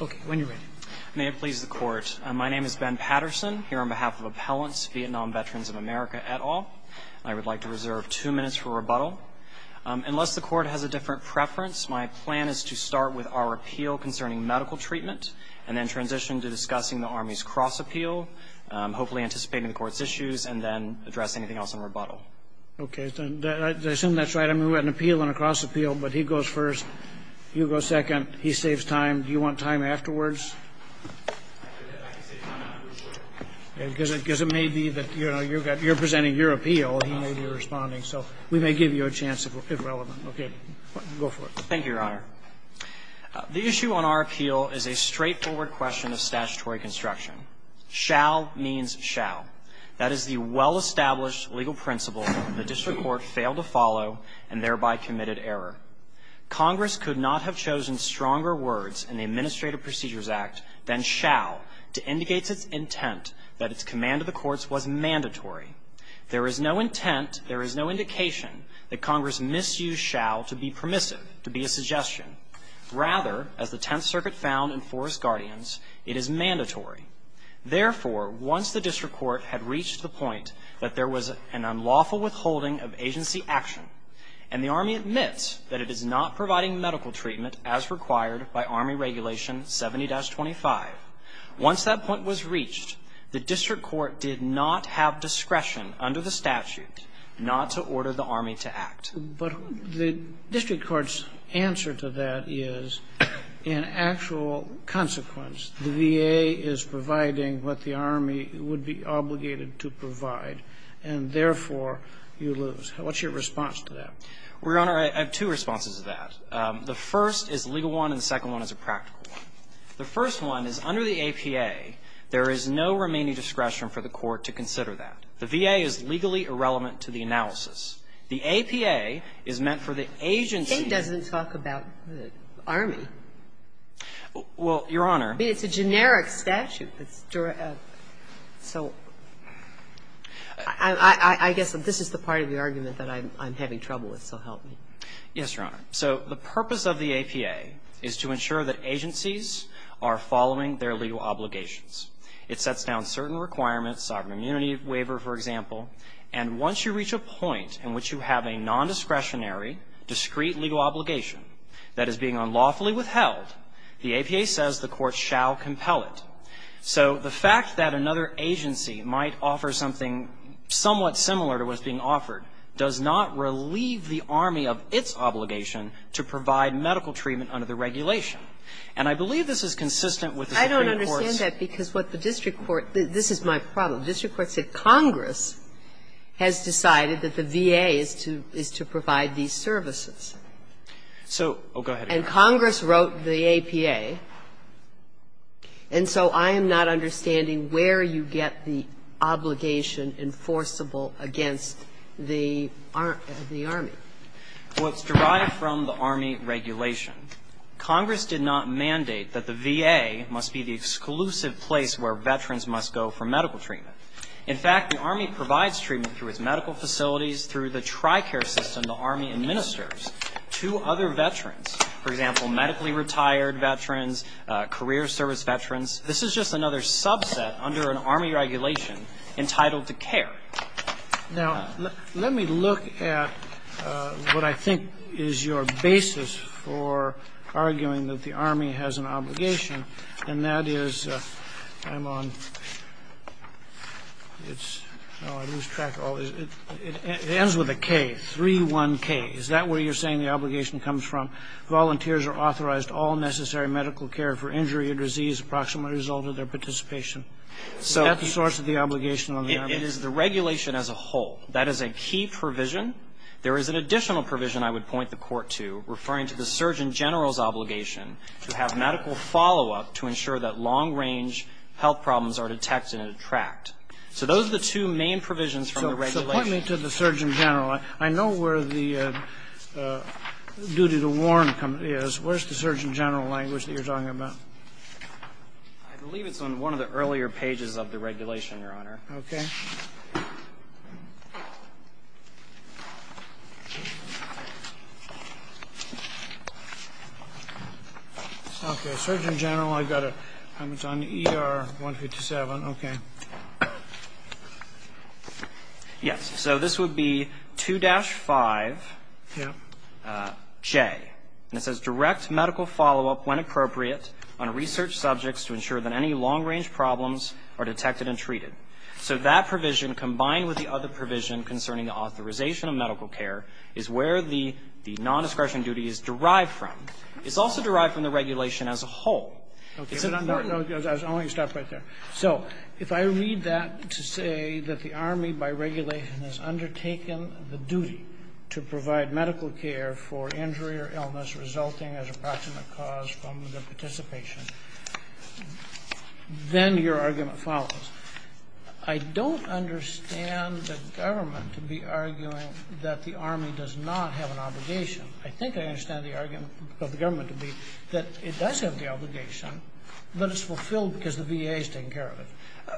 OK, when you're ready. May it please the court, my name is Ben Patterson, here on behalf of Appellants Vietnam Veterans of America et al. I would like to reserve two minutes for rebuttal. Unless the court has a different preference, my plan is to start with our appeal concerning medical treatment, and then transition to discussing the Army's cross appeal, hopefully anticipating the court's issues, and then address anything else in rebuttal. OK, I assume that's right. I mean, we had an appeal and a cross appeal, but he goes first, you go second. He saves time. Do you want time afterwards? Because it may be that you're presenting your appeal, and he may be responding. So we may give you a chance if relevant. OK, go for it. Thank you, Your Honor. The issue on our appeal is a straightforward question of statutory construction. Shall means shall. That is the well-established legal principle the district court failed to follow, and thereby committed error. Congress could not have chosen stronger words in the Administrative Procedures Act than shall to indicate its intent that its command of the courts was mandatory. There is no intent, there is no indication, that Congress misused shall to be permissive, to be a suggestion. Rather, as the Tenth Circuit found in Forrest Guardian's, it is mandatory. Therefore, once the district court had reached the point that there was an unlawful withholding of agency action, and the Army admits that it is not providing medical treatment as required by Army Regulation 70-25, once that point was reached, the district court did not have discretion under the statute not to order the Army to act. But the district court's answer to that is, in actual consequence, the VA is providing what the Army would be obligated to provide, and therefore, you lose. What's your response to that? Well, Your Honor, I have two responses to that. The first is a legal one, and the second one is a practical one. The first one is, under the APA, there is no remaining discretion for the court to consider that. The VA is legally irrelevant to the analysis. The APA is meant for the agency. It doesn't talk about the Army. Well, Your Honor. It's a generic statute. So I guess that this is the part of the argument that I'm having trouble with, so help me. Yes, Your Honor. So the purpose of the APA is to ensure that agencies are following their legal obligations. It sets down certain requirements, sovereign immunity waiver, for example, and once you reach a point in which you have a nondiscretionary, discrete legal obligation that is being unlawfully withheld, the APA says the court shall compel it. So the fact that another agency might offer something somewhat similar to what's being offered does not relieve the Army of its obligation to provide medical treatment under the regulation. And I believe this is consistent with the Supreme Court's ---- I don't understand that, because what the district court ---- this is my problem. The district court said Congress has decided that the VA is to provide these services. So, oh, go ahead, Your Honor. Okay. And so I am not understanding where you get the obligation enforceable against the Army. Well, it's derived from the Army regulation. Congress did not mandate that the VA must be the exclusive place where veterans must go for medical treatment. In fact, the Army provides treatment through its medical facilities, through the TRICARE system the Army administers to other veterans. For example, medically retired veterans, career service veterans. This is just another subset under an Army regulation entitled to care. Now, let me look at what I think is your basis for arguing that the Army has an obligation, and that is ---- I'm on ---- it's ---- oh, I lose track of all this. It ends with a K, 3-1-K. Is that where you're saying the obligation comes from? Volunteers are authorized to all necessary medical care for injury or disease approximately as a result of their participation. So that's the source of the obligation on the Army. It is the regulation as a whole. That is a key provision. There is an additional provision I would point the Court to, referring to the Surgeon General's obligation to have medical follow-up to ensure that long-range health problems are detected and tracked. So those are the two main provisions from the regulation. Point me to the Surgeon General. I know where the duty to warn is. Where's the Surgeon General language that you're talking about? I believe it's on one of the earlier pages of the regulation, Your Honor. OK. OK, Surgeon General, I've got a comment on ER-157. OK. Yes. So this would be 2-5-J, and it says, Direct medical follow-up, when appropriate, on research subjects to ensure that any long-range problems are detected and treated. So that provision, combined with the other provision concerning the authorization of medical care, is where the non-discretion duty is derived from. It's also derived from the regulation as a whole. Is it not important? No, no, I want you to stop right there. So if I read that to say that the Army, by regulation, has undertaken the duty to provide medical care for injury or illness resulting as a proximate cause from the participation, then your argument follows. I don't understand the government to be arguing that the Army does not have an obligation. I think I understand the argument of the government to be that it does have the obligation, but it's fulfilled because the VA is taking care of it.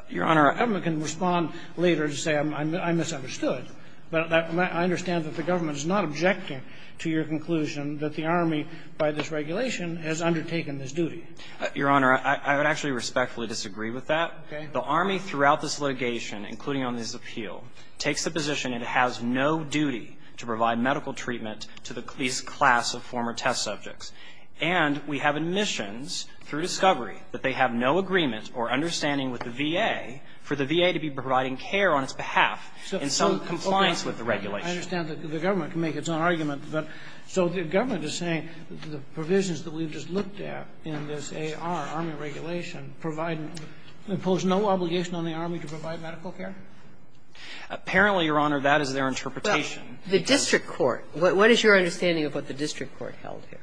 Your Honor. I can respond later to say I misunderstood, but I understand that the government is not objecting to your conclusion that the Army, by this regulation, has undertaken this duty. Your Honor, I would actually respectfully disagree with that. The Army, throughout this litigation, including on this appeal, takes the position it has no duty to provide medical treatment to the police class of former test subjects. And we have admissions through discovery that they have no agreement or understanding with the VA for the VA to be providing care on its behalf in some compliance with the regulation. I understand that the government can make its own argument. But so the government is saying the provisions that we've just looked at in this AR, Army regulation, provide no obligation on the Army to provide medical care? Apparently, Your Honor, that is their interpretation. Well, the district court, what is your understanding of what the district court held here?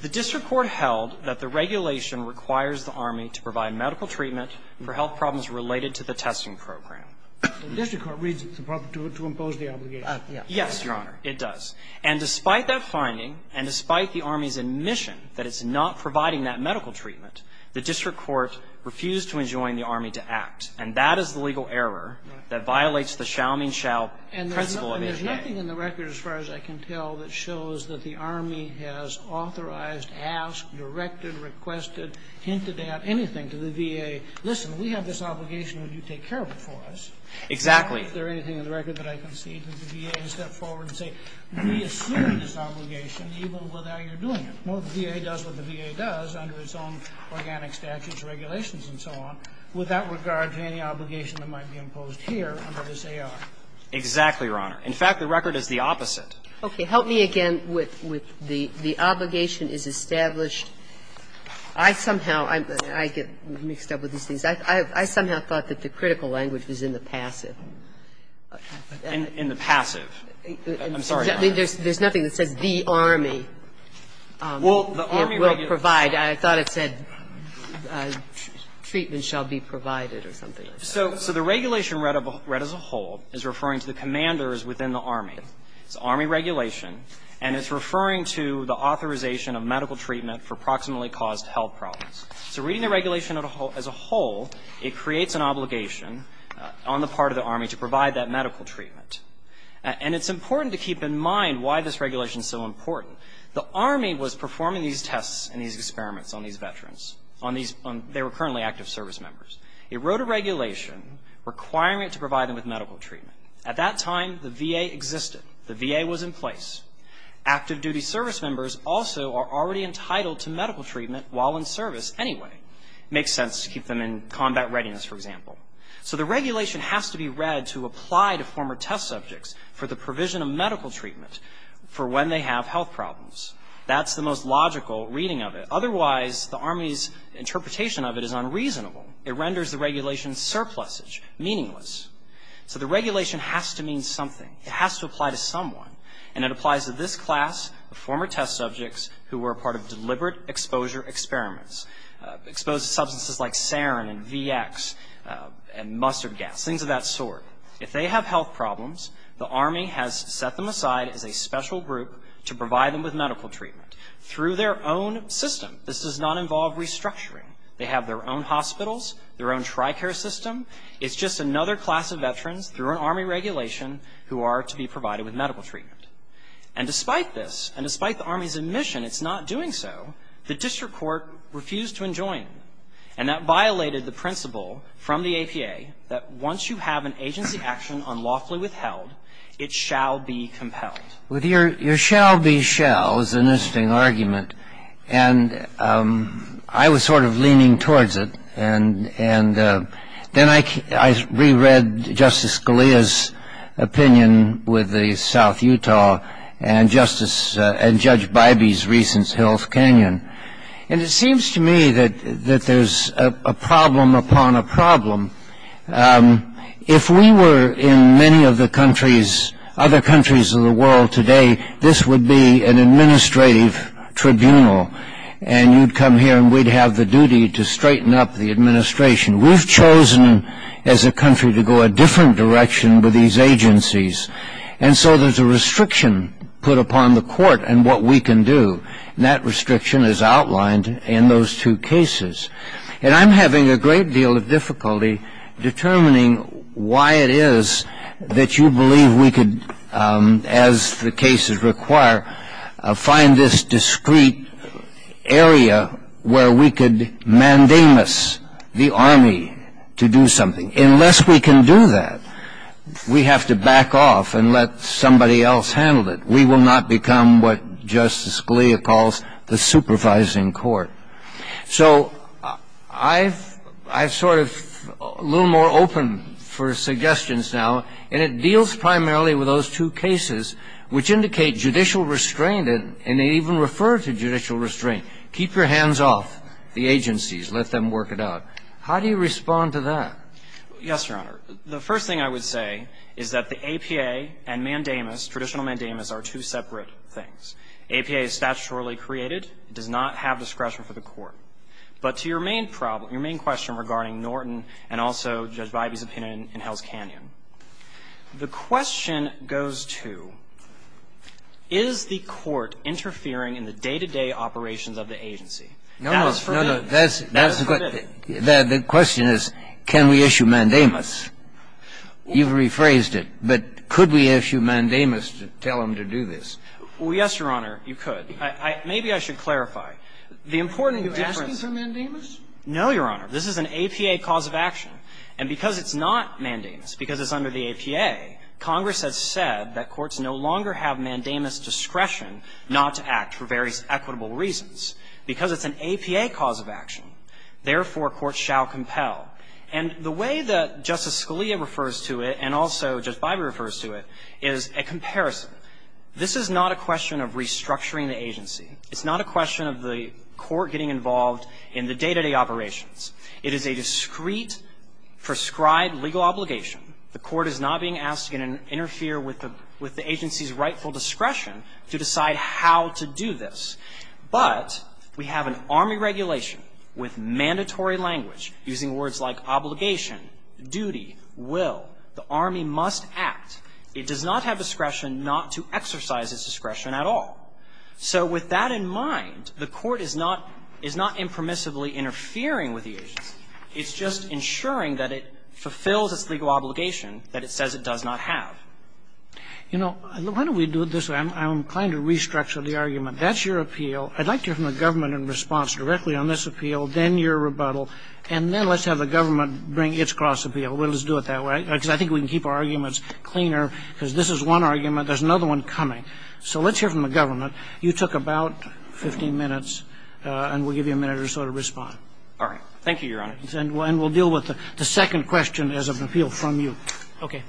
The district court held that the regulation requires the Army to provide medical treatment for health problems related to the testing program. The district court reads it to impose the obligation. Yes, Your Honor, it does. And despite that finding, and despite the Army's admission that it's not providing that medical treatment, the district court refused to enjoin the Army to act. And that is the legal error that violates the shall-mean-shall principle of the VA. And there's nothing in the record, as far as I can tell, that shows that the Army has authorized, asked, directed, requested, hinted at anything to the VA. Listen, we have this obligation that you take care of it for us. Exactly. Is there anything in the record that I can see that the VA can step forward and say, we assume this obligation even without your doing it. Well, the VA does what the VA does under its own organic statutes, regulations, and so on, without regard to any obligation that might be imposed here under this AR. Exactly, Your Honor. In fact, the record is the opposite. Okay. Help me again with the obligation is established. I somehow get mixed up with these things. I somehow thought that the critical language was in the passive. In the passive. I'm sorry, Your Honor. There's nothing that says the Army will provide. I thought it said treatment shall be provided or something like that. So the regulation read as a whole is referring to the commanders within the Army. It's Army regulation, and it's referring to the authorization of medical treatment for proximately caused health problems. So reading the regulation as a whole, it creates an obligation on the part of the Army to provide that medical treatment. And it's important to keep in mind why this regulation is so important. The Army was performing these tests and these experiments on these veterans, on these they were currently active service members. It wrote a regulation requiring it to provide them with medical treatment. At that time, the VA existed. The VA was in place. Active duty service members also are already entitled to medical treatment while in service anyway. It makes sense to keep them in combat readiness, for example. So the regulation has to be read to apply to former test subjects for the provision of medical treatment for when they have health problems. That's the most logical reading of it. Otherwise, the Army's interpretation of it is unreasonable. It renders the regulation surplusage, meaningless. So the regulation has to mean something. It has to apply to someone, and it applies to this class of former test subjects who were a part of deliberate exposure experiments, exposed to substances like sarin and VX and mustard gas, things of that sort. If they have health problems, the Army has set them aside as a special group to provide them with medical treatment through their own system. This does not involve restructuring. They have their own hospitals, their own TRICARE system. It's just another class of veterans through an Army regulation who are to be provided with medical treatment. And despite this, and despite the Army's admission it's not doing so, the district court refused to enjoin. And that violated the principle from the APA that once you have an agency action unlawfully withheld, it shall be compelled. With your shall be shall is an interesting argument. And I was sort of leaning towards it, and then I reread Justice Scalia's opinion with the South Utah and Judge Bybee's recent Hills Canyon. And it seems to me that there's a problem upon a problem. If we were in many of the countries, other countries of the world today, this would be an administrative tribunal. And you'd come here and we'd have the duty to straighten up the administration. We've chosen as a country to go a different direction with these agencies. And so there's a restriction put upon the court and what we can do. And that restriction is outlined in those two cases. And I'm having a great deal of difficulty determining why it is that you believe we could, as the cases require, find this discreet area where we could mandamus the Army to do something. Unless we can do that, we have to back off and let somebody else handle it. We will not become what Justice Scalia calls the supervising court. So I'm sort of a little more open for suggestions now. And it deals primarily with those two cases, which indicate judicial restraint. And they even refer to judicial restraint. Keep your hands off the agencies. Let them work it out. How do you respond to that? Yes, Your Honor. The first thing I would say is that the APA and mandamus, traditional mandamus, are two separate things. APA is statutorily created. It does not have discretion for the court. But to your main problem, your main question regarding Norton and also Judge Vibey's opinion in Hell's Canyon, the question goes to, is the court interfering in the day-to-day operations of the agency? That is for me to say. That is for me to say. That is for me to say. That is for me to say. The question is, can we issue mandamus? You've rephrased it, but could we issue mandamus to tell them to do this? Well, yes, Your Honor, you could. Maybe I should clarify. The important difference Is it asking for mandamus? No, Your Honor. This is an APA cause of action. And because it's not mandamus, because it's under the APA, Congress has said that courts no longer have mandamus discretion not to act for various equitable reasons. Because it's an APA cause of action, therefore, courts shall compel. And the way that Justice Scalia refers to it and also Judge Vibey refers to it is a comparison. This is not a question of restructuring the agency. It's not a question of the court getting involved in the day-to-day operations. It is a discreet, prescribed legal obligation. The court is not being asked to interfere with the agency's rightful discretion to decide how to do this. But we have an Army regulation with mandatory language, using words like obligation, duty, will. The Army must act. It does not have discretion not to exercise its discretion at all. So with that in mind, the court is not impermissibly interfering with the agency. It's just ensuring that it fulfills its legal obligation that it says it does not have. You know, why don't we do it this way? I'm inclined to restructure the argument. That's your appeal. I'd like to hear from the government in response directly on this appeal, then your rebuttal, and then let's have the government bring its cross appeal. Let's do it that way. Because I think we can keep our arguments cleaner, because this is one argument. There's another one coming. So let's hear from the government. You took about 15 minutes, and we'll give you a minute or so to respond. All right. Thank you, Your Honor. And we'll deal with the second question as an appeal from you. Okay.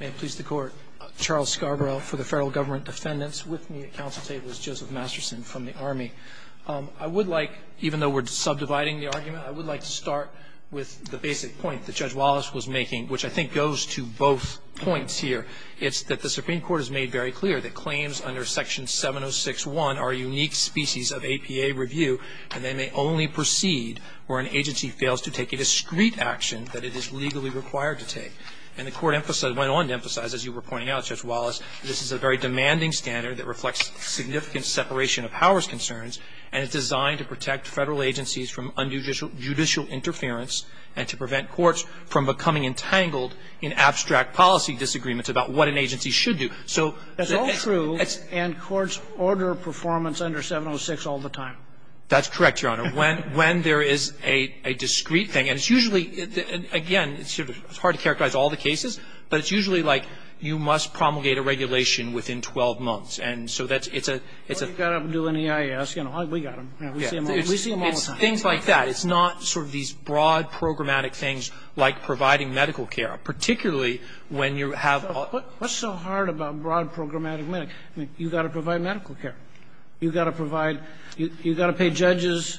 May it please the Court. Charles Scarborough for the Federal Government Defendants. With me at council table is Joseph Masterson from the Army. I would like, even though we're subdividing the argument, I would like to start with the basic point that Judge Wallace was making, which I think goes to both points here. It's that the Supreme Court has made very clear that claims under Section 706-1 are a unique species of APA review, and they may only proceed where an agency fails to take a discreet action that it is legally required to take. And the Court went on to emphasize, as you were pointing out, Judge Wallace, this is a very demanding standard that reflects significant separation of powers concerns, and it's designed to protect Federal agencies from judicial interference and to prevent courts from becoming entangled in abstract policy disagreements about what an agency should do. So it's all true, and courts order performance under 706 all the time. That's correct, Your Honor. When there is a discreet thing, and it's usually, again, it's hard to characterize all the cases, but it's usually like you must promulgate a regulation within 12 months. And so that's – it's a – it's a – Well, I guess, you know, we got them. We see them all the time. It's things like that. It's not sort of these broad, programmatic things like providing medical care, particularly when you have all – But what's so hard about broad, programmatic medic – I mean, you've got to provide medical care. You've got to provide – you've got to pay judges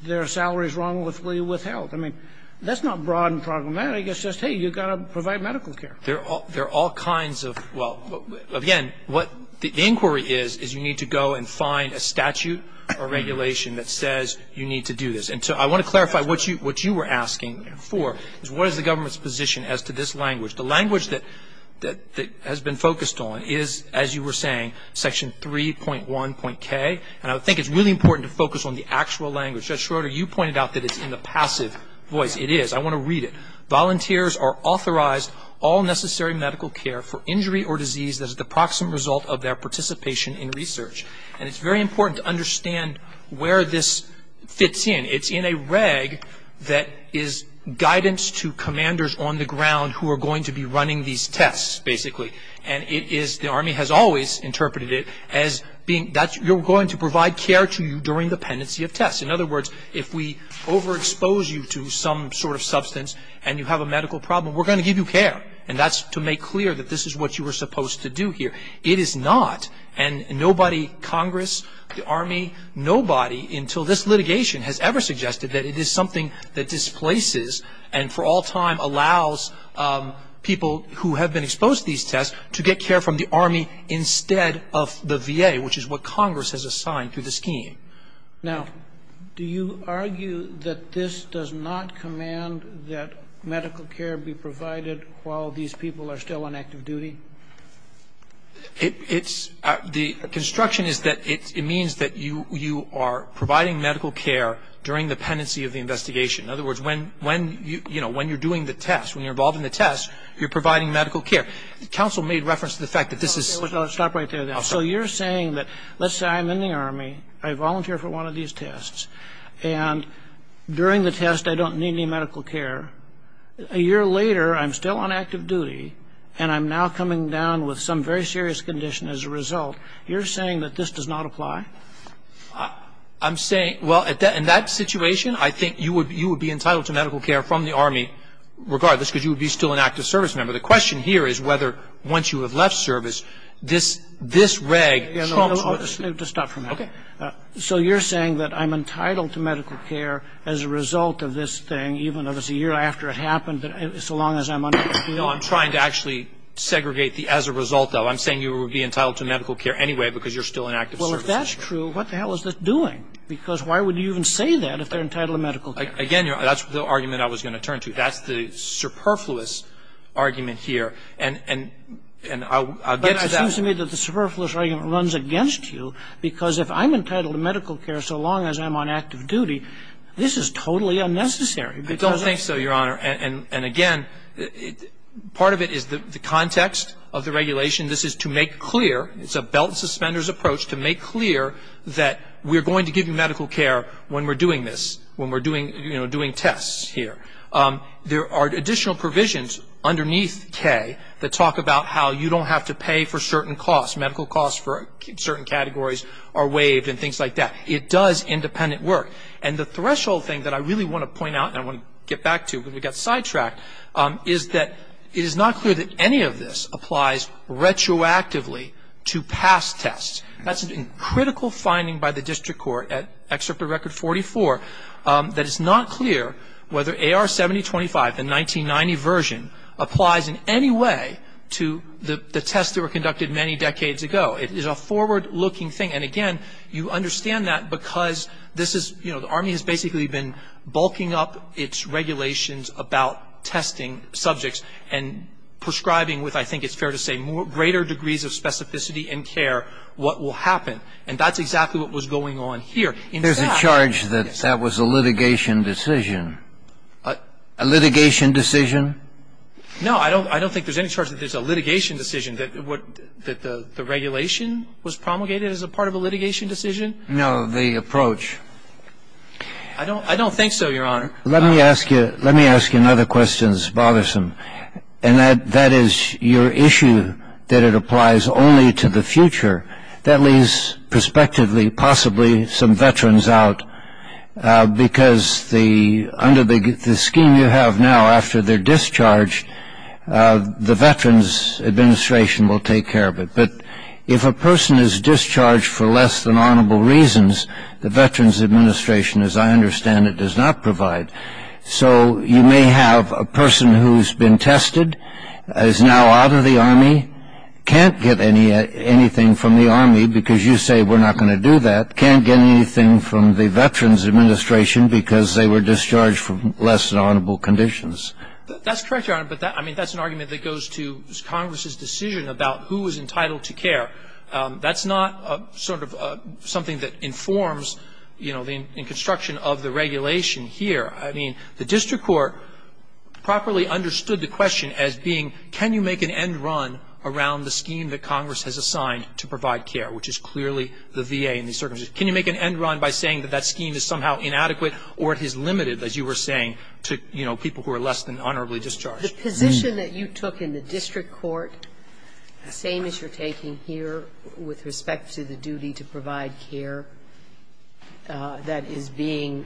their salaries wrongfully withheld. I mean, that's not broad and programmatic. It's just, hey, you've got to provide medical care. There are all kinds of – well, again, what the inquiry is, is you need to go and find a statute or regulation that says you need to do this. And so I want to clarify what you – what you were asking for, is what is the government's position as to this language? The language that – that has been focused on is, as you were saying, Section 3.1.K. And I think it's really important to focus on the actual language. Judge Schroeder, you pointed out that it's in the passive voice. It is. I want to read it. Volunteers are authorized all necessary medical care for injury or disease that is the proximate result of their participation in research. And it's very important to understand where this fits in. It's in a reg that is guidance to commanders on the ground who are going to be running these tests, basically. And it is – the Army has always interpreted it as being – that you're going to provide care to you during the pendency of tests. In other words, if we overexpose you to some sort of substance and you have a medical problem, we're going to give you care. And that's to make clear that this is what you were supposed to do here. It is not. And nobody – Congress, the Army – nobody until this litigation has ever suggested that it is something that displaces and for all time allows people who have been exposed to these tests to get care from the Army instead of the VA, which is what Congress has assigned through the scheme. Now, do you argue that this does not command that medical care be provided while these people are still on active duty? It's – the construction is that it means that you are providing medical care during the pendency of the investigation. In other words, when you're doing the test, when you're involved in the test, you're providing medical care. The counsel made reference to the fact that this is – I'll stop right there, then. So you're saying that – let's say I'm in the Army, I volunteer for one of these tests, and during the test I don't need any medical care. If I'm coming down with some very serious condition as a result, you're saying that this does not apply? I'm saying – well, in that situation, I think you would be entitled to medical care from the Army regardless, because you would be still an active service member. The question here is whether, once you have left service, this reg – Just stop for a minute. Okay. So you're saying that I'm entitled to medical care as a result of this thing, even though it's a year after it happened, so long as I'm under the field? No, I'm trying to actually segregate the as a result of. I'm saying you would be entitled to medical care anyway, because you're still an active service member. Well, if that's true, what the hell is this doing? Because why would you even say that if they're entitled to medical care? Again, that's the argument I was going to turn to. That's the superfluous argument here. And I'll get to that. But it seems to me that the superfluous argument runs against you, because if I'm entitled to medical care so long as I'm on active duty, this is totally unnecessary, because it's – I don't think so, Your Honor. And again, part of it is the context of the regulation. This is to make clear – it's a belt and suspenders approach to make clear that we're going to give you medical care when we're doing this, when we're doing tests here. There are additional provisions underneath K that talk about how you don't have to pay for certain costs. Medical costs for certain categories are waived and things like that. It does independent work. And the threshold thing that I really want to point out, and I want to get back to because we got sidetracked, is that it is not clear that any of this applies retroactively to past tests. That's a critical finding by the district court at Excerpt of Record 44 that it's not clear whether AR 7025, the 1990 version, applies in any way to the tests that were conducted many decades ago. It is a forward-looking thing. And again, you understand that because this is – the Army has basically been bulking up its regulations about testing subjects and prescribing with, I think it's fair to say, greater degrees of specificity and care what will happen. And that's exactly what was going on here. In fact – There's a charge that that was a litigation decision. A litigation decision? No. I don't think there's any charge that there's a litigation decision, that the regulation was promulgated as a part of a litigation decision. No, the approach. I don't think so, Your Honor. Let me ask you another question that's bothersome. And that is your issue that it applies only to the future. That leaves prospectively possibly some veterans out because under the scheme you have now after their discharge, the Veterans Administration will take care of it. But if a person is discharged for less than honorable reasons, the Veterans Administration, as I understand it, does not provide. So you may have a person who's been tested, is now out of the Army, can't get anything from the Army because you say we're not going to do that, can't get anything from the Veterans Administration because they were discharged for less than honorable conditions. That's correct, Your Honor. But I mean, that's an argument that goes to Congress's decision about who is entitled to care. That's not sort of something that informs, you know, in construction of the regulation here. I mean, the district court properly understood the question as being can you make an end run around the scheme that Congress has assigned to provide care, which is clearly the VA in these circumstances. Can you make an end run by saying that that scheme is somehow inadequate or it is limited, as you were saying, to, you know, people who are less than honorably discharged? The position that you took in the district court, the same as you're taking here with respect to the duty to provide care that is being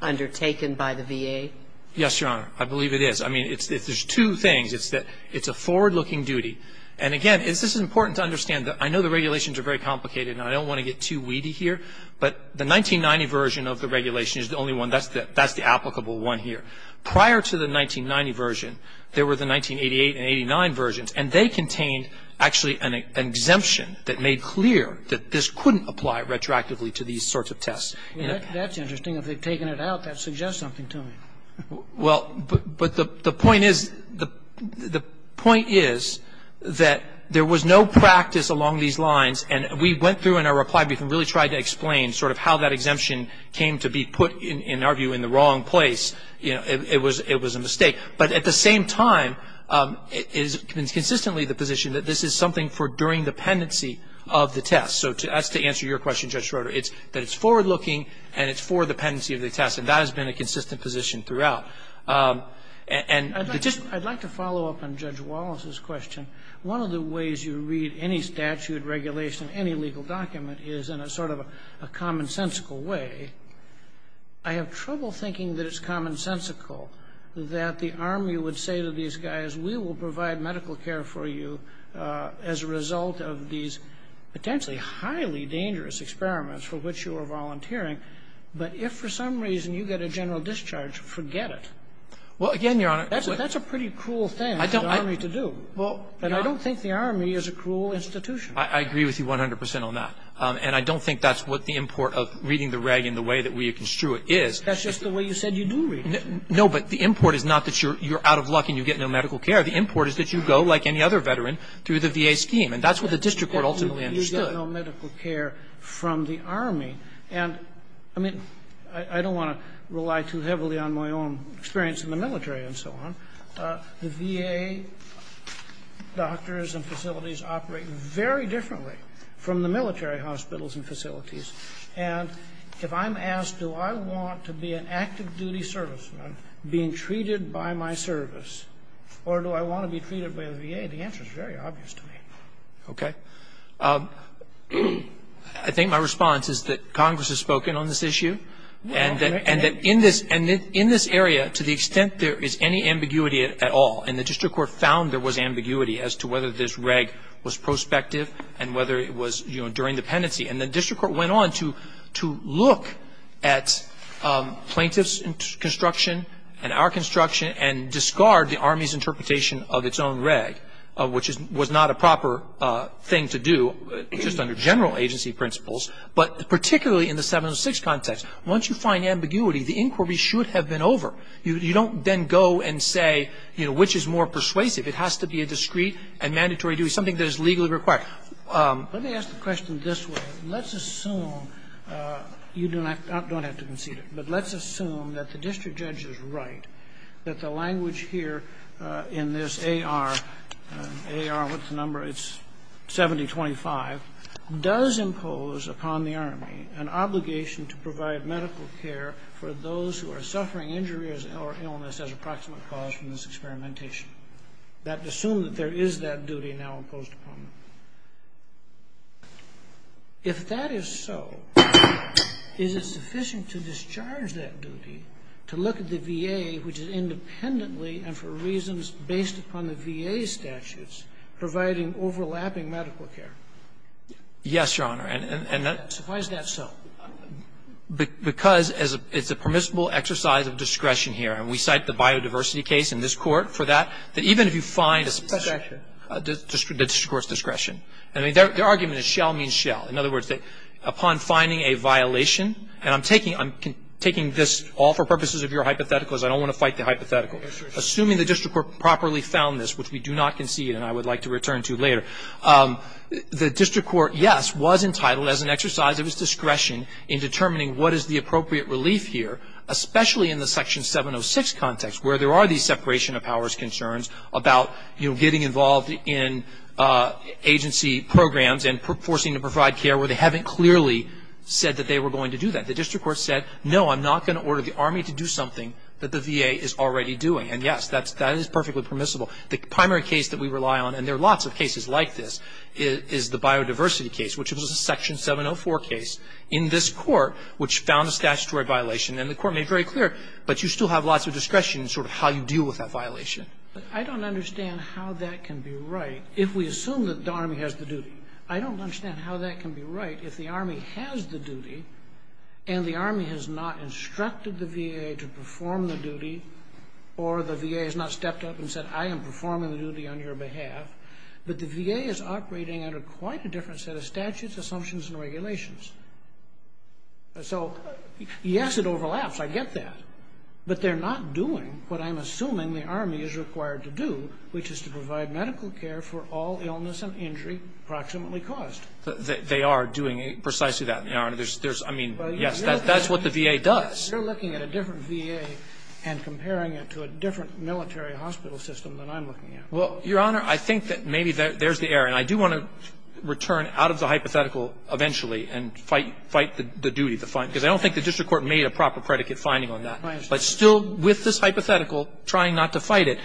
undertaken by the VA? Yes, Your Honor. I believe it is. I mean, it's the two things. It's a forward-looking duty. And again, it's just important to understand that I know the regulations are very complicated and I don't want to get too weedy here, but the 1990 version of the regulation is the only one that's the applicable one here. Prior to the 1990 version, there were the 1988 and 1989 versions, and they contained actually an exemption that made clear that this couldn't apply retroactively to these sorts of tests. That's interesting. If they've taken it out, that suggests something to me. Well, but the point is, the point is that there was no practice along these lines, and we went through in our reply brief and really tried to explain sort of how that in our view, in the wrong place, you know, it was a mistake. But at the same time, it's consistently the position that this is something for during the pendency of the test. So as to answer your question, Judge Schroeder, it's that it's forward-looking and it's for the pendency of the test, and that has been a consistent position throughout. And the just ---- I'd like to follow up on Judge Wallace's question. One of the ways you read any statute, regulation, any legal document is in a sort of a commonsensical way. I have trouble thinking that it's commonsensical that the Army would say to these guys, we will provide medical care for you as a result of these potentially highly dangerous experiments for which you are volunteering, but if for some reason you get a general discharge, forget it. Well, again, Your Honor ---- That's a pretty cruel thing for the Army to do. And I don't think the Army is a cruel institution. I agree with you 100 percent on that. And I don't think that's what the import of reading the reg in the way that we construe it is. That's just the way you said you do read it. No, but the import is not that you're out of luck and you get no medical care. The import is that you go, like any other veteran, through the VA scheme. And that's what the district court ultimately understood. You get no medical care from the Army. And, I mean, I don't want to rely too heavily on my own experience in the military and so on. The VA doctors and facilities operate very differently from the military hospitals and facilities. And if I'm asked, do I want to be an active duty serviceman being treated by my service, or do I want to be treated by the VA, the answer is very obvious to me. Okay. I think my response is that Congress has spoken on this issue. And that in this area, to the extent there is any ambiguity at all, and the district court found there was ambiguity as to whether this reg was prospective and whether it was, you know, during dependency. And the district court went on to look at plaintiff's construction and our construction and discard the Army's interpretation of its own reg, which was not a proper thing to do, just under general agency principles. But particularly in the 706 context, once you find ambiguity, the inquiry should have been over. You don't then go and say, you know, which is more persuasive. It has to be a discreet and mandatory duty, something that is legally required. Let me ask the question this way. Let's assume you don't have to concede it, but let's assume that the district judge is right, that the language here in this AR, AR, what's the number, it's 7025, does impose upon the Army an obligation to provide medical care for those who are suffering injuries or illness as a proximate cause from this experimentation. Let's assume that there is that duty now imposed upon them. If that is so, is it sufficient to discharge that duty to look at the VA, which is independently and for reasons based upon the VA's statutes, providing overlapping medical care? Yes, Your Honor. And that's Why is that so? Because it's a permissible exercise of discretion here. And we cite the biodiversity case in this Court for that, that even if you find a Discretion. A district court's discretion. I mean, their argument is shell means shell. In other words, upon finding a violation, and I'm taking this all for purposes of your hypotheticals. I don't want to fight the hypothetical. Assuming the district court properly found this, which we do not concede and I would like to return to later, the district court, yes, was entitled as an exercise of its discretion in determining what is the appropriate relief here, especially in the Section 706 context where there are these separation of powers concerns about, you know, getting involved in agency programs and forcing to provide care where they haven't clearly said that they were going to do that. The district court said, no, I'm not going to order the Army to do something that the VA is already doing. And yes, that is perfectly permissible. The primary case that we rely on, and there are lots of cases like this, is the biodiversity case, which was a Section 704 case in this Court, which found a statutory violation. And the Court made very clear, but you still have lots of discretion in sort of how you deal with that violation. I don't understand how that can be right if we assume that the Army has the duty. I don't understand how that can be right if the Army has the duty and the Army has not instructed the VA to perform the duty or the VA has not stepped up and said, I am performing the duty on your behalf, but the VA is operating under quite a different set of statutes, assumptions, and regulations. So, yes, it overlaps. I get that. But they're not doing what I'm assuming the Army is required to do, which is to provide medical care for all illness and injury proximately caused. They are doing precisely that, Your Honor. There's, I mean, yes, that's what the VA does. You're looking at a different VA and comparing it to a different military hospital system than I'm looking at. Well, Your Honor, I think that maybe there's the error. And I do want to return out of the hypothetical eventually and fight the duty to find it, because I don't think the district court made a proper predicate finding on that. But still, with this hypothetical, trying not to fight it.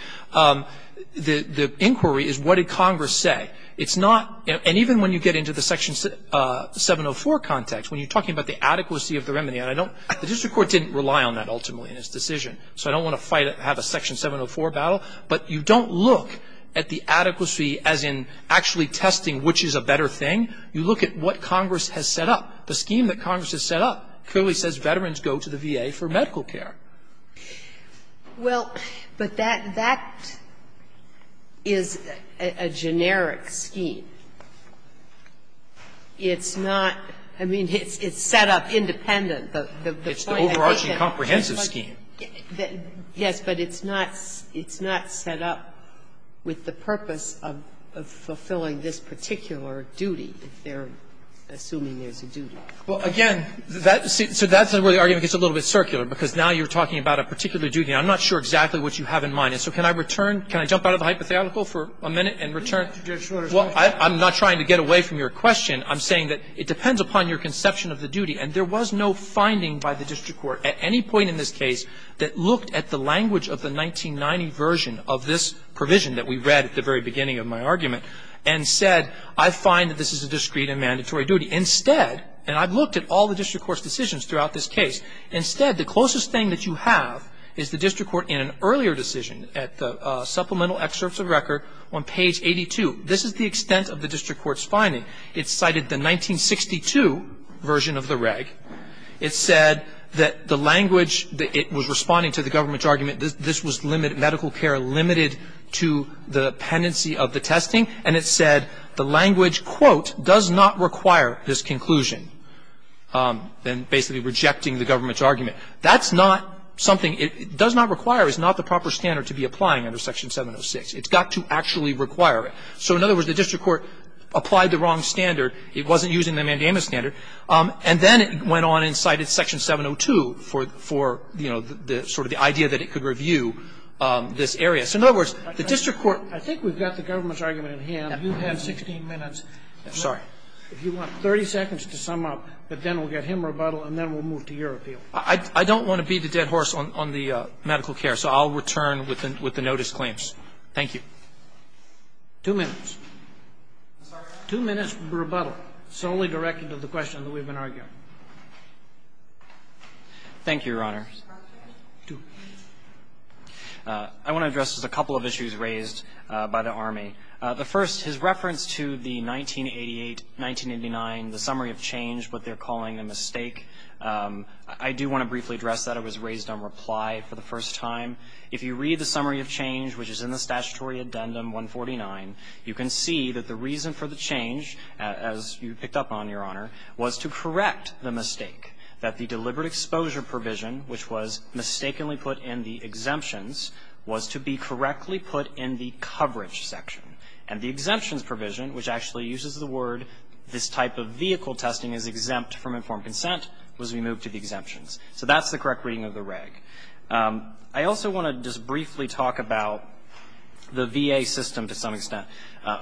The inquiry is what did Congress say? It's not and even when you get into the Section 704 context, when you're talking about the adequacy of the remedy, and I don't the district court didn't rely on that ultimately in its decision. So I don't want to fight it and have a Section 704 battle. But you don't look at the adequacy as in actually testing which is a better thing. You look at what Congress has set up. The scheme that Congress has set up clearly says veterans go to the VA for medical care. Well, but that is a generic scheme. It's not – I mean, it's set up independent. It's the overarching comprehensive scheme. Yes, but it's not set up with the purpose of fulfilling this particular duty, if they're assuming there's a duty. Well, again, that's where the argument gets a little bit circular, because now you're talking about a particular duty and I'm not sure exactly what you have in mind. And so can I return – can I jump out of the hypothetical for a minute and return – well, I'm not trying to get away from your question. I'm saying that it depends upon your conception of the duty, and there was no finding by the district court at any point in this case that looked at the language of the 1990 version of this provision that we read at the very beginning of my argument and said, I find that this is a discreet and mandatory duty. Instead, and I've looked at all the district court's decisions throughout this case. Instead, the closest thing that you have is the district court in an earlier decision at the supplemental excerpts of record on page 82. This is the extent of the district court's finding. It cited the 1962 version of the reg. It said that the language that it was responding to, the government's argument, this was limited – medical care limited to the pendency of the testing. And it said the language, quote, does not require this conclusion, then basically rejecting the government's argument. That's not something – it does not require, is not the proper standard to be applying under Section 706. It's got to actually require it. So in other words, the district court applied the wrong standard. It wasn't using the mandamus standard. And then it went on and cited Section 702 for, you know, the sort of the idea that it could review this area. So in other words, the district court – I think we've got the government's argument in hand. You've had 16 minutes. Sorry. If you want 30 seconds to sum up, but then we'll get him rebuttal, and then we'll move to your appeal. I don't want to beat a dead horse on the medical care, so I'll return with the notice claims. Thank you. Two minutes. Two minutes for rebuttal solely directed to the question that we've been arguing. Thank you, Your Honor. I want to address just a couple of issues raised by the Army. The first, his reference to the 1988, 1989, the summary of change, what they're calling a mistake, I do want to briefly address that. It was raised on reply for the first time. If you read the summary of change, which is in the Statutory Addendum 149, you can see that the reason for the change, as you picked up on, Your Honor, was to correct the mistake, that the deliberate exposure provision, which was mistakenly put in the exemptions provision, which actually uses the word, this type of vehicle testing is exempt from informed consent, was removed to the exemptions. So that's the correct reading of the reg. I also want to just briefly talk about the VA system to some extent.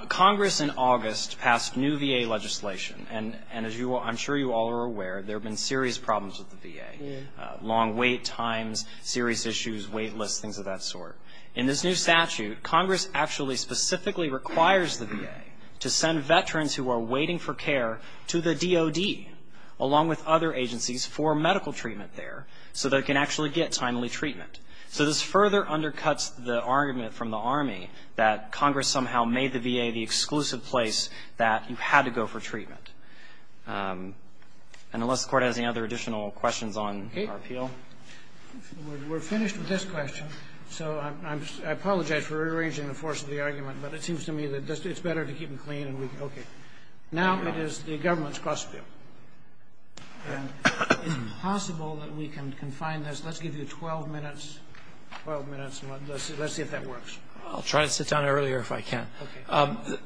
Congress in August passed new VA legislation, and as I'm sure you all are aware, there have been serious problems with the VA, long wait times, serious issues, wait lists, things of that sort. In this new statute, Congress actually specifically requires the VA to send veterans who are waiting for care to the DOD, along with other agencies, for medical treatment there, so they can actually get timely treatment. So this further undercuts the argument from the Army that Congress somehow made the VA the exclusive place that you had to go for treatment. And unless the Court has any other additional questions on our appeal. We're finished with this question, so I apologize for rearranging the force of the argument, but it seems to me that it's better to keep them clean and we can, okay. Now it is the government's cross-appeal. Is it possible that we can confine this, let's give you 12 minutes, let's see if that works. I'll try to sit down earlier if I can.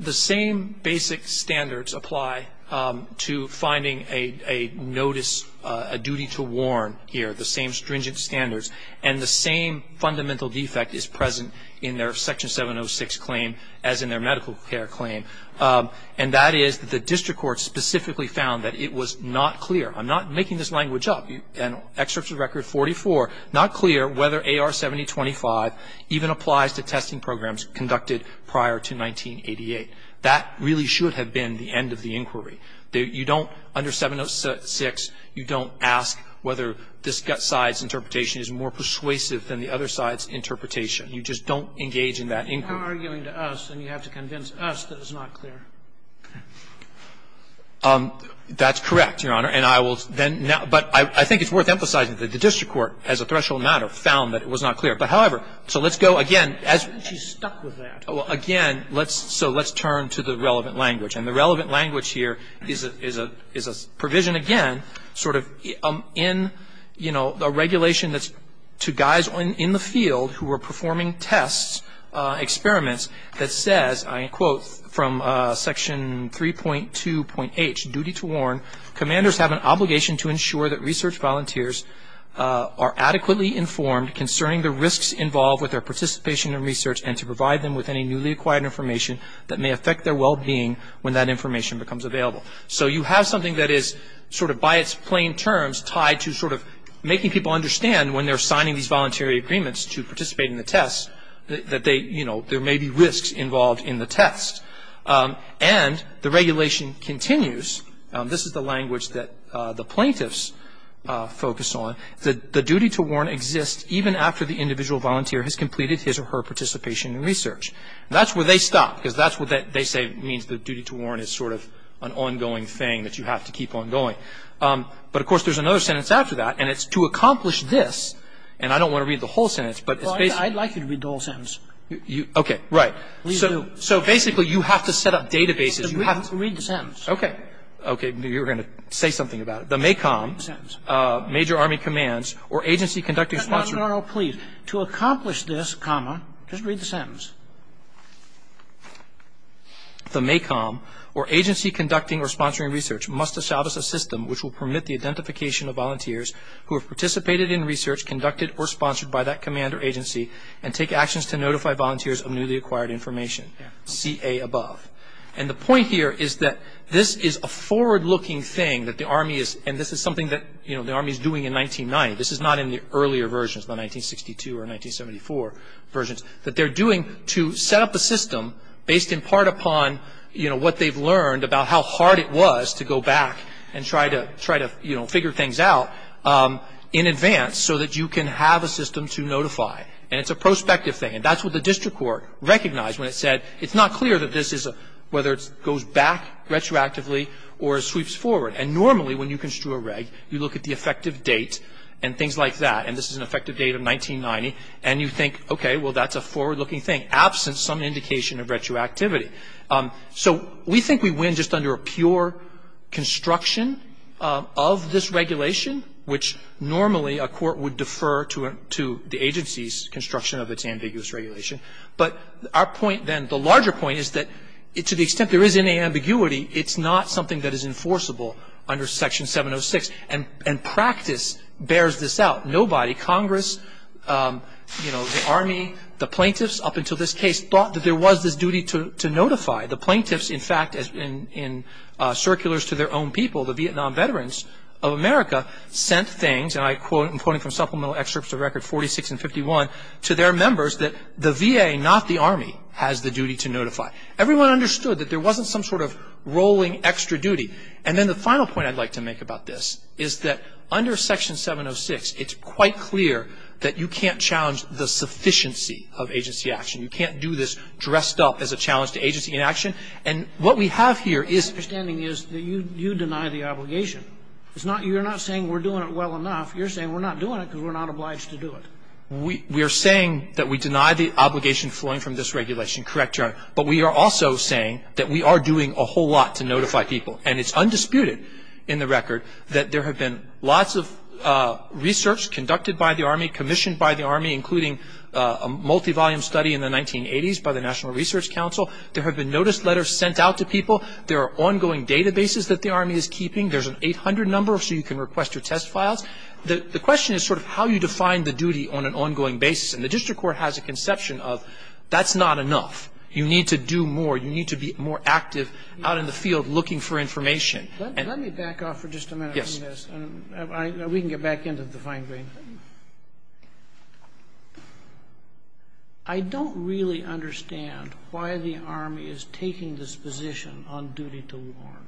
The same basic standards apply to finding a notice, a duty to warn here. The same stringent standards and the same fundamental defect is present in their Section 706 claim as in their medical care claim. And that is the district court specifically found that it was not clear, I'm not making this language up, and excerpts of Record 44, not clear whether AR 7025 even applies to testing programs conducted prior to 1988. That really should have been the end of the inquiry. You don't, under 706, you don't ask whether this side's interpretation is more persuasive than the other side's interpretation. You just don't engage in that inquiry. Scalia. You're arguing to us and you have to convince us that it's not clear. Gershengorn That's correct, Your Honor, and I will then now, but I think it's worth emphasizing that the district court, as a threshold matter, found that it was not clear. But, however, so let's go again, as we stuck with that, again, so let's turn to the relevant language. And the relevant language here is a provision, again, sort of in, you know, a regulation that's to guys in the field who are performing tests, experiments, that says, I quote, from section 3.2.H, duty to warn, commanders have an obligation to ensure that research volunteers are adequately informed concerning the risks involved with their participation in research and to provide them with any newly acquired information that may affect their well-being when that information becomes available. So you have something that is, sort of by its plain terms, tied to sort of making people understand when they're signing these voluntary agreements to participate in the tests that they, you know, there may be risks involved in the tests. And the regulation continues, this is the language that the plaintiffs focus on, that the duty to warn exists even after the individual volunteer has completed his or her participation in research. That's where they stop, because that's what they say means the duty to warn is sort of an ongoing thing that you have to keep on going. But, of course, there's another sentence after that, and it's to accomplish this, and I don't want to read the whole sentence, but it's basically. I'd like you to read the whole sentence. Okay, right. Please do. So basically, you have to set up databases. You have to read the sentence. Okay. Okay, you were going to say something about it. The MACOM, Major Army Commands, or Agency Conducting Sponsor. No, no, no, no, please. To accomplish this, comma, just read the sentence, the MACOM, or Agency Conducting or Sponsoring Research, must establish a system which will permit the identification of volunteers who have participated in research conducted or sponsored by that command or agency and take actions to notify volunteers of newly acquired information, CA above. And the point here is that this is a forward-looking thing that the Army is, and this is something that, you know, the Army is doing in 1990. This is not in the earlier versions, the 1962 or 1974 versions, that they're doing to set up a system based in part upon, you know, what they've learned about how hard it was to go back and try to, you know, figure things out in advance so that you can have a system to notify. And it's a prospective thing, and that's what the district court recognized when it said, it's not clear that this is a, whether it goes back retroactively or sweeps forward. And normally, when you construe a reg, you look at the effective date and things like that. And this is an effective date of 1990. And you think, okay, well, that's a forward-looking thing, absent some indication of retroactivity. So we think we win just under a pure construction of this regulation, which normally a court would defer to the agency's construction of its ambiguous regulation. But our point then, the larger point is that to the extent there is any ambiguity, it's not something that is enforceable under Section 706. And practice bears this out. Nobody, Congress, you know, the Army, the plaintiffs, up until this case thought that there was this duty to notify. The plaintiffs, in fact, in circulars to their own people, the Vietnam veterans of America, sent things, and I'm quoting from supplemental excerpts of Record 46 and 51, to their members that the VA, not the Army, has the duty to notify. Everyone understood that there wasn't some sort of rolling extra duty. And then the final point I'd like to make about this is that under Section 706, it's quite clear that you can't challenge the sufficiency of agency action. You can't do this dressed up as a challenge to agency inaction. And what we have here is the understanding is that you deny the obligation. It's not, you're not saying we're doing it well enough. You're saying we're not doing it because we're not obliged to do it. We are saying that we deny the obligation flowing from this regulation, correct, Your Honor. But we are also saying that we are doing a whole lot to notify people. And it's undisputed in the record that there have been lots of research conducted by the Army, commissioned by the Army, including a multi-volume study in the 1980s by the National Research Council. There have been notice letters sent out to people. There are ongoing databases that the Army is keeping. There's an 800 number so you can request your test files. The question is sort of how you define the duty on an ongoing basis. And the district court has a conception of that's not enough. You need to do more. You need to be more active out in the field looking for information. And let me back off for just a minute on this. And we can get back into the fine grain. I don't really understand why the Army is taking this position on duty to warn.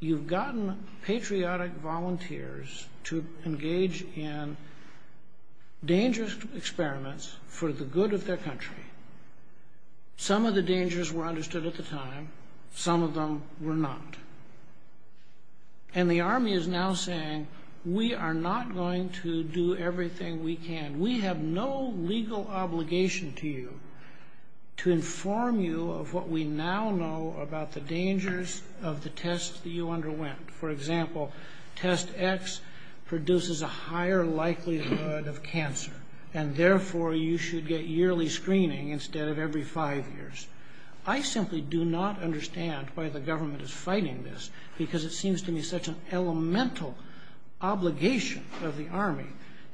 You've gotten patriotic volunteers to engage in dangerous experiments for the good of their country. Some of the dangers were understood at the time. Some of them were not. And the Army is now saying we are not going to do everything we can. We have no legal obligation to you to inform you of what we now know about the dangers of the tests that you underwent. For example, test X produces a higher likelihood of cancer. And therefore, you should get yearly screening instead of every five years. I simply do not understand why the government is fighting this, because it seems to me such an elemental obligation of the Army,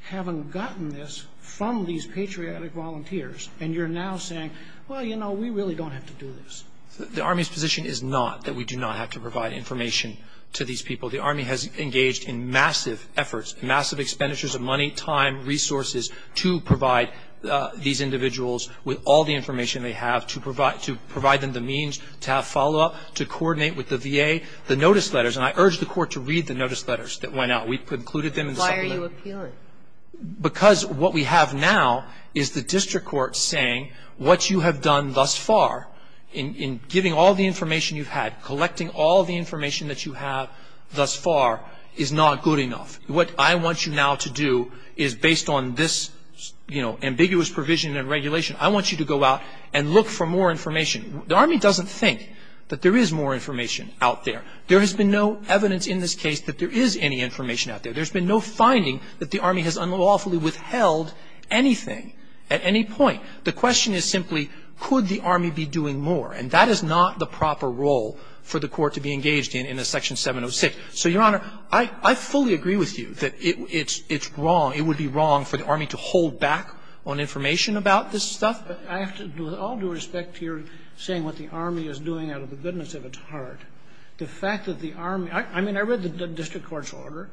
having gotten this from these patriotic volunteers. And you're now saying, well, you know, we really don't have to do this. The Army's position is not that we do not have to provide information to these people. We have the resources to provide these individuals with all the information they have, to provide them the means to have follow-up, to coordinate with the VA. The notice letters, and I urge the Court to read the notice letters that went out. We've concluded them. Why are you appealing? Because what we have now is the district court saying what you have done thus far in giving all the information you've had, collecting all the information that you have thus far is not good enough. What I want you now to do is based on this, you know, ambiguous provision and regulation, I want you to go out and look for more information. The Army doesn't think that there is more information out there. There has been no evidence in this case that there is any information out there. There's been no finding that the Army has unlawfully withheld anything at any point. The question is simply, could the Army be doing more? And that is not the proper role for the Court to be engaged in in a Section 706. So, Your Honor, I fully agree with you that it's wrong, it would be wrong for the Army to hold back on information about this stuff. But I have to, with all due respect to your saying what the Army is doing out of the goodness of its heart, the fact that the Army – I mean, I read the district court's order.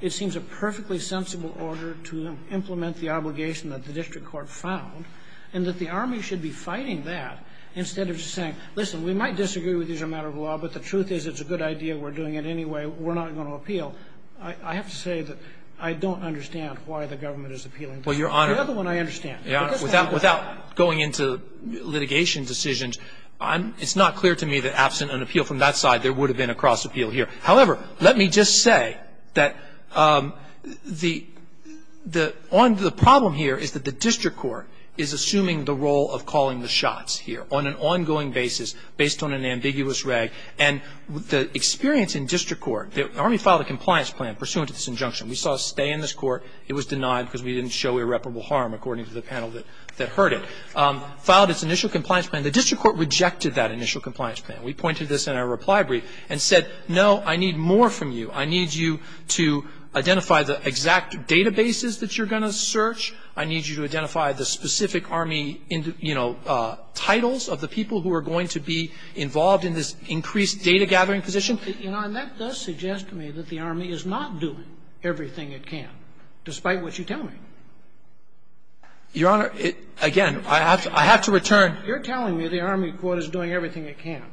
It seems a perfectly sensible order to implement the obligation that the district court found, and that the Army should be fighting that instead of just saying, listen, we might disagree with you as a matter of law, but the truth is it's a good idea, we're doing it anyway, we're not going to appeal. I have to say that I don't understand why the government is appealing to this. The other one I understand. But this has to be done. Without going into litigation decisions, it's not clear to me that absent an appeal from that side, there would have been a cross-appeal here. However, let me just say that the problem here is that the district court is assuming the role of calling the shots here on an ongoing basis based on an ambiguous reg, and the experience in district court – the Army filed a compliance plan pursuant to this injunction. We saw a stay in this court. It was denied because we didn't show irreparable harm according to the panel that heard it. Filed its initial compliance plan. The district court rejected that initial compliance plan. We pointed this in our reply brief and said, no, I need more from you. I need you to identify the exact databases that you're going to search. I need you to identify the specific Army, you know, titles of the people who are going to be involved in this increased data-gathering position. And that does suggest to me that the Army is not doing everything it can, despite what you tell me. Your Honor, again, I have to return to you're telling me the Army court is doing everything it can.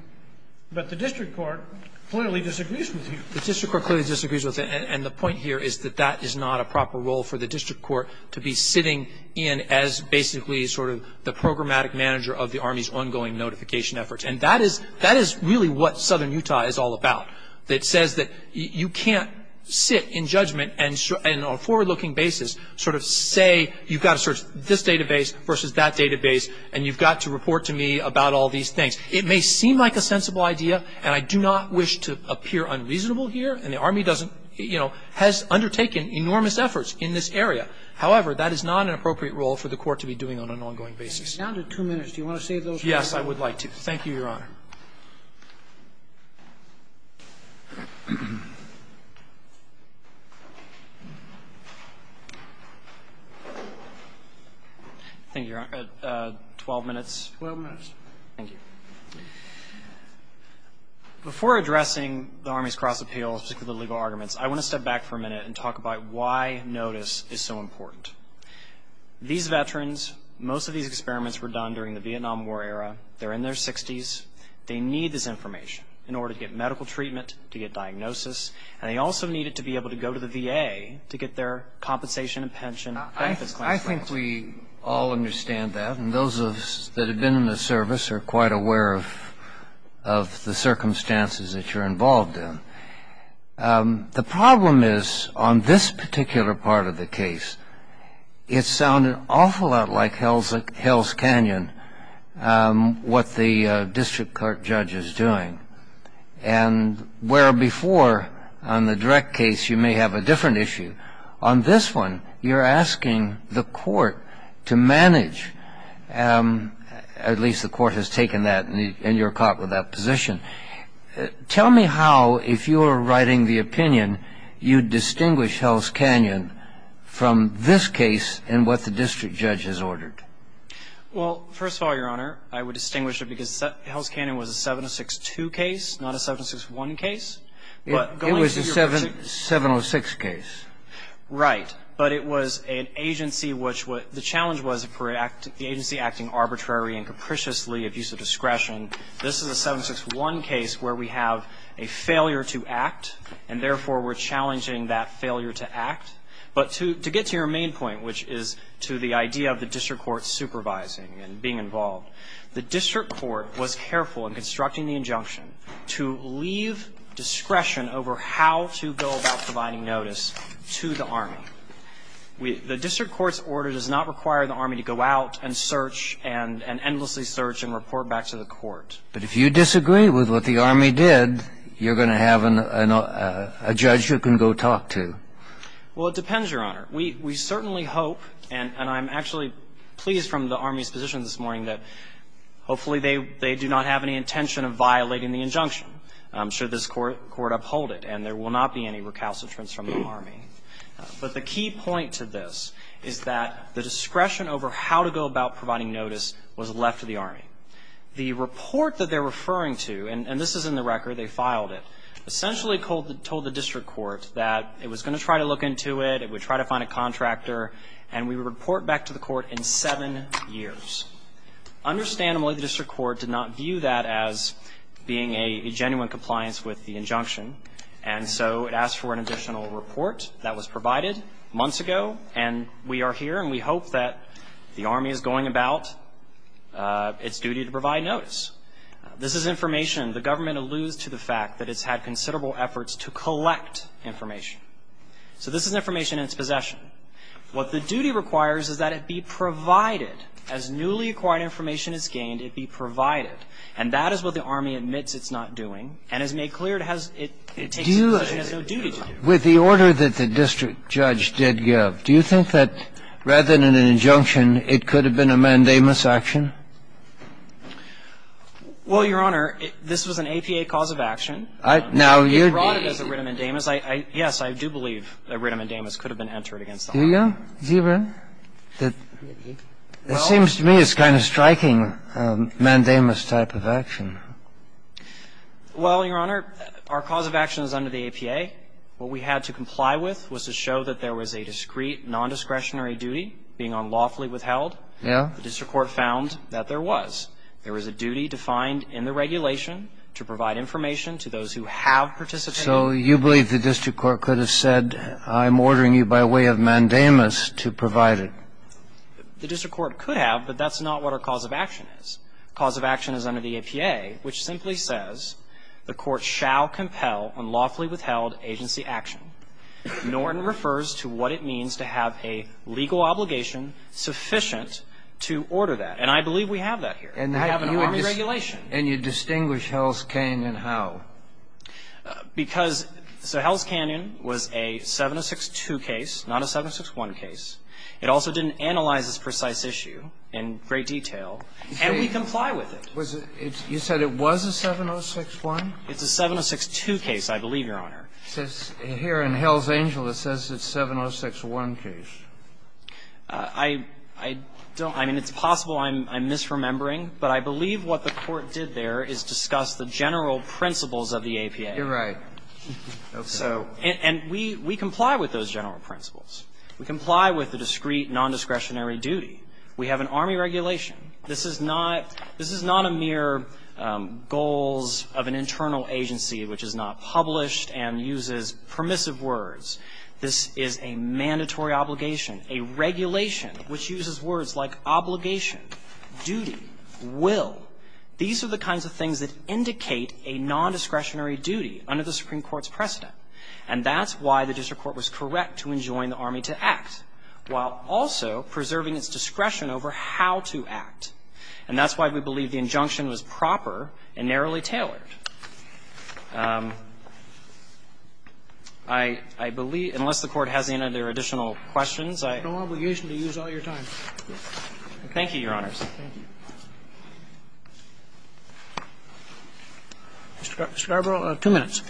But the district court clearly disagrees with you. The district court clearly disagrees with it. And the point here is that that is not a proper role for the district court to be sitting in as basically sort of the programmatic manager of the Army's ongoing notification efforts. And that is really what Southern Utah is all about. It says that you can't sit in judgment and on a forward-looking basis sort of say, you've got to search this database versus that database, and you've got to report to me about all these things. It may seem like a sensible idea, and I do not wish to appear unreasonable here. And the Army doesn't, you know, has undertaken enormous efforts in this area. However, that is not an appropriate role for the court to be doing on an ongoing basis. You're down to two minutes. Do you want to save those for later? Yes, I would like to. Thank you, Your Honor. Thank you, Your Honor. Twelve minutes. Twelve minutes. Thank you. Before addressing the Army's cross-appeals, particularly the legal arguments, I want to step back for a minute and talk about why notice is so important. These veterans, most of these experiments were done during the Vietnam War era. They're in their 60s. They need this information in order to get medical treatment, to get diagnosis, and they also need it to be able to go to the VA to get their compensation and pension, benefits, claims, and benefits. I think we all understand that, and those of us that have been in the service are quite aware of the circumstances that you're involved in. The problem is, on this particular part of the case, it sounded awful lot like Hell's Canyon, what the district court judge is doing, and where before, on the direct case, you may have a different issue. On this one, you're asking the court to manage, at least the court has taken that and you're caught with that position. Tell me how, if you were writing the opinion, you'd distinguish Hell's Canyon from this case and what the district judge has ordered. Well, first of all, Your Honor, I would distinguish it because Hell's Canyon was a 706-2 case, not a 706-1 case. It was a 706 case. Right. But it was an agency which the challenge was for the agency acting arbitrary and capriciously of use of discretion. This is a 761 case where we have a failure to act, and therefore, we're challenging that failure to act. But to get to your main point, which is to the idea of the district court supervising and being involved, the district court was careful in constructing the injunction to leave discretion over how to go about providing notice to the Army. The district court's order does not require the Army to go out and search and endlessly search and report back to the court. But if you disagree with what the Army did, you're going to have a judge you can go talk to. Well, it depends, Your Honor. We certainly hope, and I'm actually pleased from the Army's position this morning that hopefully they do not have any intention of violating the injunction should this Court uphold it, and there will not be any recalcitrance from the Army. But the key point to this is that the discretion over how to go about providing notice was left to the Army. The report that they're referring to, and this is in the record, they filed it, essentially told the district court that it was going to try to look into it, it would try to find a contractor, and we would report back to the court in seven years. Understandably, the district court did not view that as being a genuine compliance with the injunction, and so it asked for an additional report that was provided months ago, and we are here and we hope that the Army is going about its duty to provide notice. This is information the government alludes to the fact that it's had considerable efforts to collect information. So this is information in its possession. What the duty requires is that it be provided. As newly acquired information is gained, it be provided. And that is what the Army admits it's not doing, and has made clear it has no duty to do. With the order that the district judge did give, do you think that rather than an injunction, it could have been a mandamus action? Well, Your Honor, this was an APA cause of action. Now, you're the ---- It brought it as a writ of mandamus. Yes, I do believe a writ of mandamus could have been entered against the Army. Do you, Zebra? It seems to me it's kind of a striking mandamus type of action. Well, Your Honor, our cause of action is under the APA. What we had to comply with was to show that there was a discreet, nondiscretionary duty being unlawfully withheld. Yeah. The district court found that there was. There was a duty defined in the regulation to provide information to those who have participated. So you believe the district court could have said, I'm ordering you by way of mandamus to provide it. The district court could have, but that's not what our cause of action is. Cause of action is under the APA, which simply says the court shall compel unlawfully withheld agency action. Norton refers to what it means to have a legal obligation sufficient to order that. And I believe we have that here. We have an Army regulation. And you distinguish Hell's Canyon and how. Because so Hell's Canyon was a 706-2 case, not a 706-1 case. It also didn't analyze this precise issue in great detail. And we comply with it. Was it you said it was a 706-1? It's a 706-2 case, I believe, Your Honor. It says here in Hell's Angel it says it's a 706-1 case. I don't know. I mean, it's possible I'm misremembering, but I believe what the court did there is discuss the general principles of the APA. You're right. Okay. And we comply with those general principles. We comply with the discrete nondiscretionary duty. We have an Army regulation. This is not a mere goals of an internal agency which is not published and uses permissive words. This is a mandatory obligation, a regulation which uses words like obligation, duty, will. These are the kinds of things that indicate a nondiscretionary duty under the Supreme Court's precedent. And that's why the district court was correct to enjoin the Army to act, while also preserving its discretion over how to act. And that's why we believe the injunction was proper and narrowly tailored. I believe, unless the Court has any other additional questions, I don't know. No obligation to use all your time. Thank you, Your Honors. Thank you. Mr. Garbo, two minutes.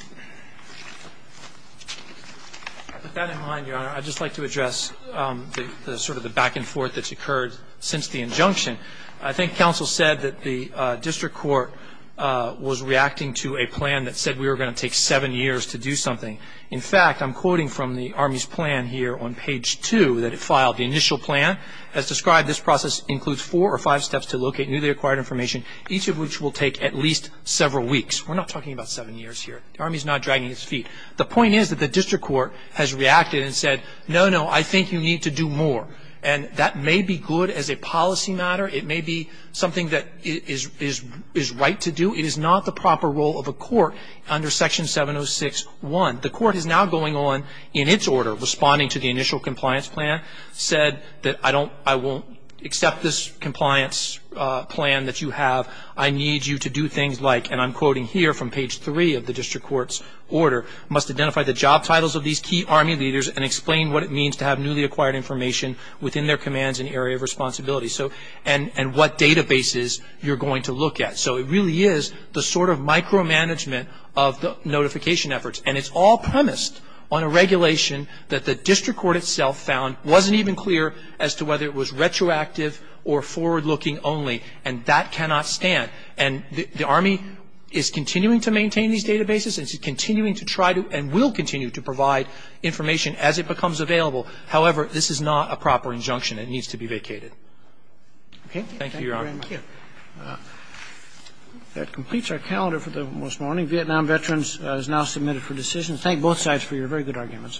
With that in mind, Your Honor, I'd just like to address the sort of the back and forth that's occurred since the injunction. I think counsel said that the district court was reacting to a plan that said we were going to take seven years to do something. In fact, I'm quoting from the Army's plan here on page two that it filed. The initial plan, as described, this process includes four or five steps to locate newly acquired information, each of which will take at least several weeks. We're not talking about seven years here. The Army's not dragging its feet. The point is that the district court has reacted and said, no, no, I think you need to do more. And that may be good as a policy matter. It may be something that is right to do. It is not the proper role of a court under section 706.1. The court is now going on in its order, responding to the initial compliance plan, said that I won't accept this compliance plan that you have. I need you to do things like, and I'm quoting here from page three of the district court's order, must identify the job titles of these key Army leaders and explain what it means to have newly acquired information within their commands and area of responsibility. So, and what databases you're going to look at. So, it really is the sort of micromanagement of the notification efforts. And it's all premised on a regulation that the district court itself found wasn't even clear as to whether it was retroactive or forward-looking only. And that cannot stand. And the Army is continuing to maintain these databases and is continuing to try to and will continue to provide information as it becomes available. However, this is not a proper injunction. It needs to be vacated. Okay. Thank you, Your Honor. Thank you. That completes our calendar for this morning. Vietnam veterans is now submitted for decision. Thank both sides for your very good arguments.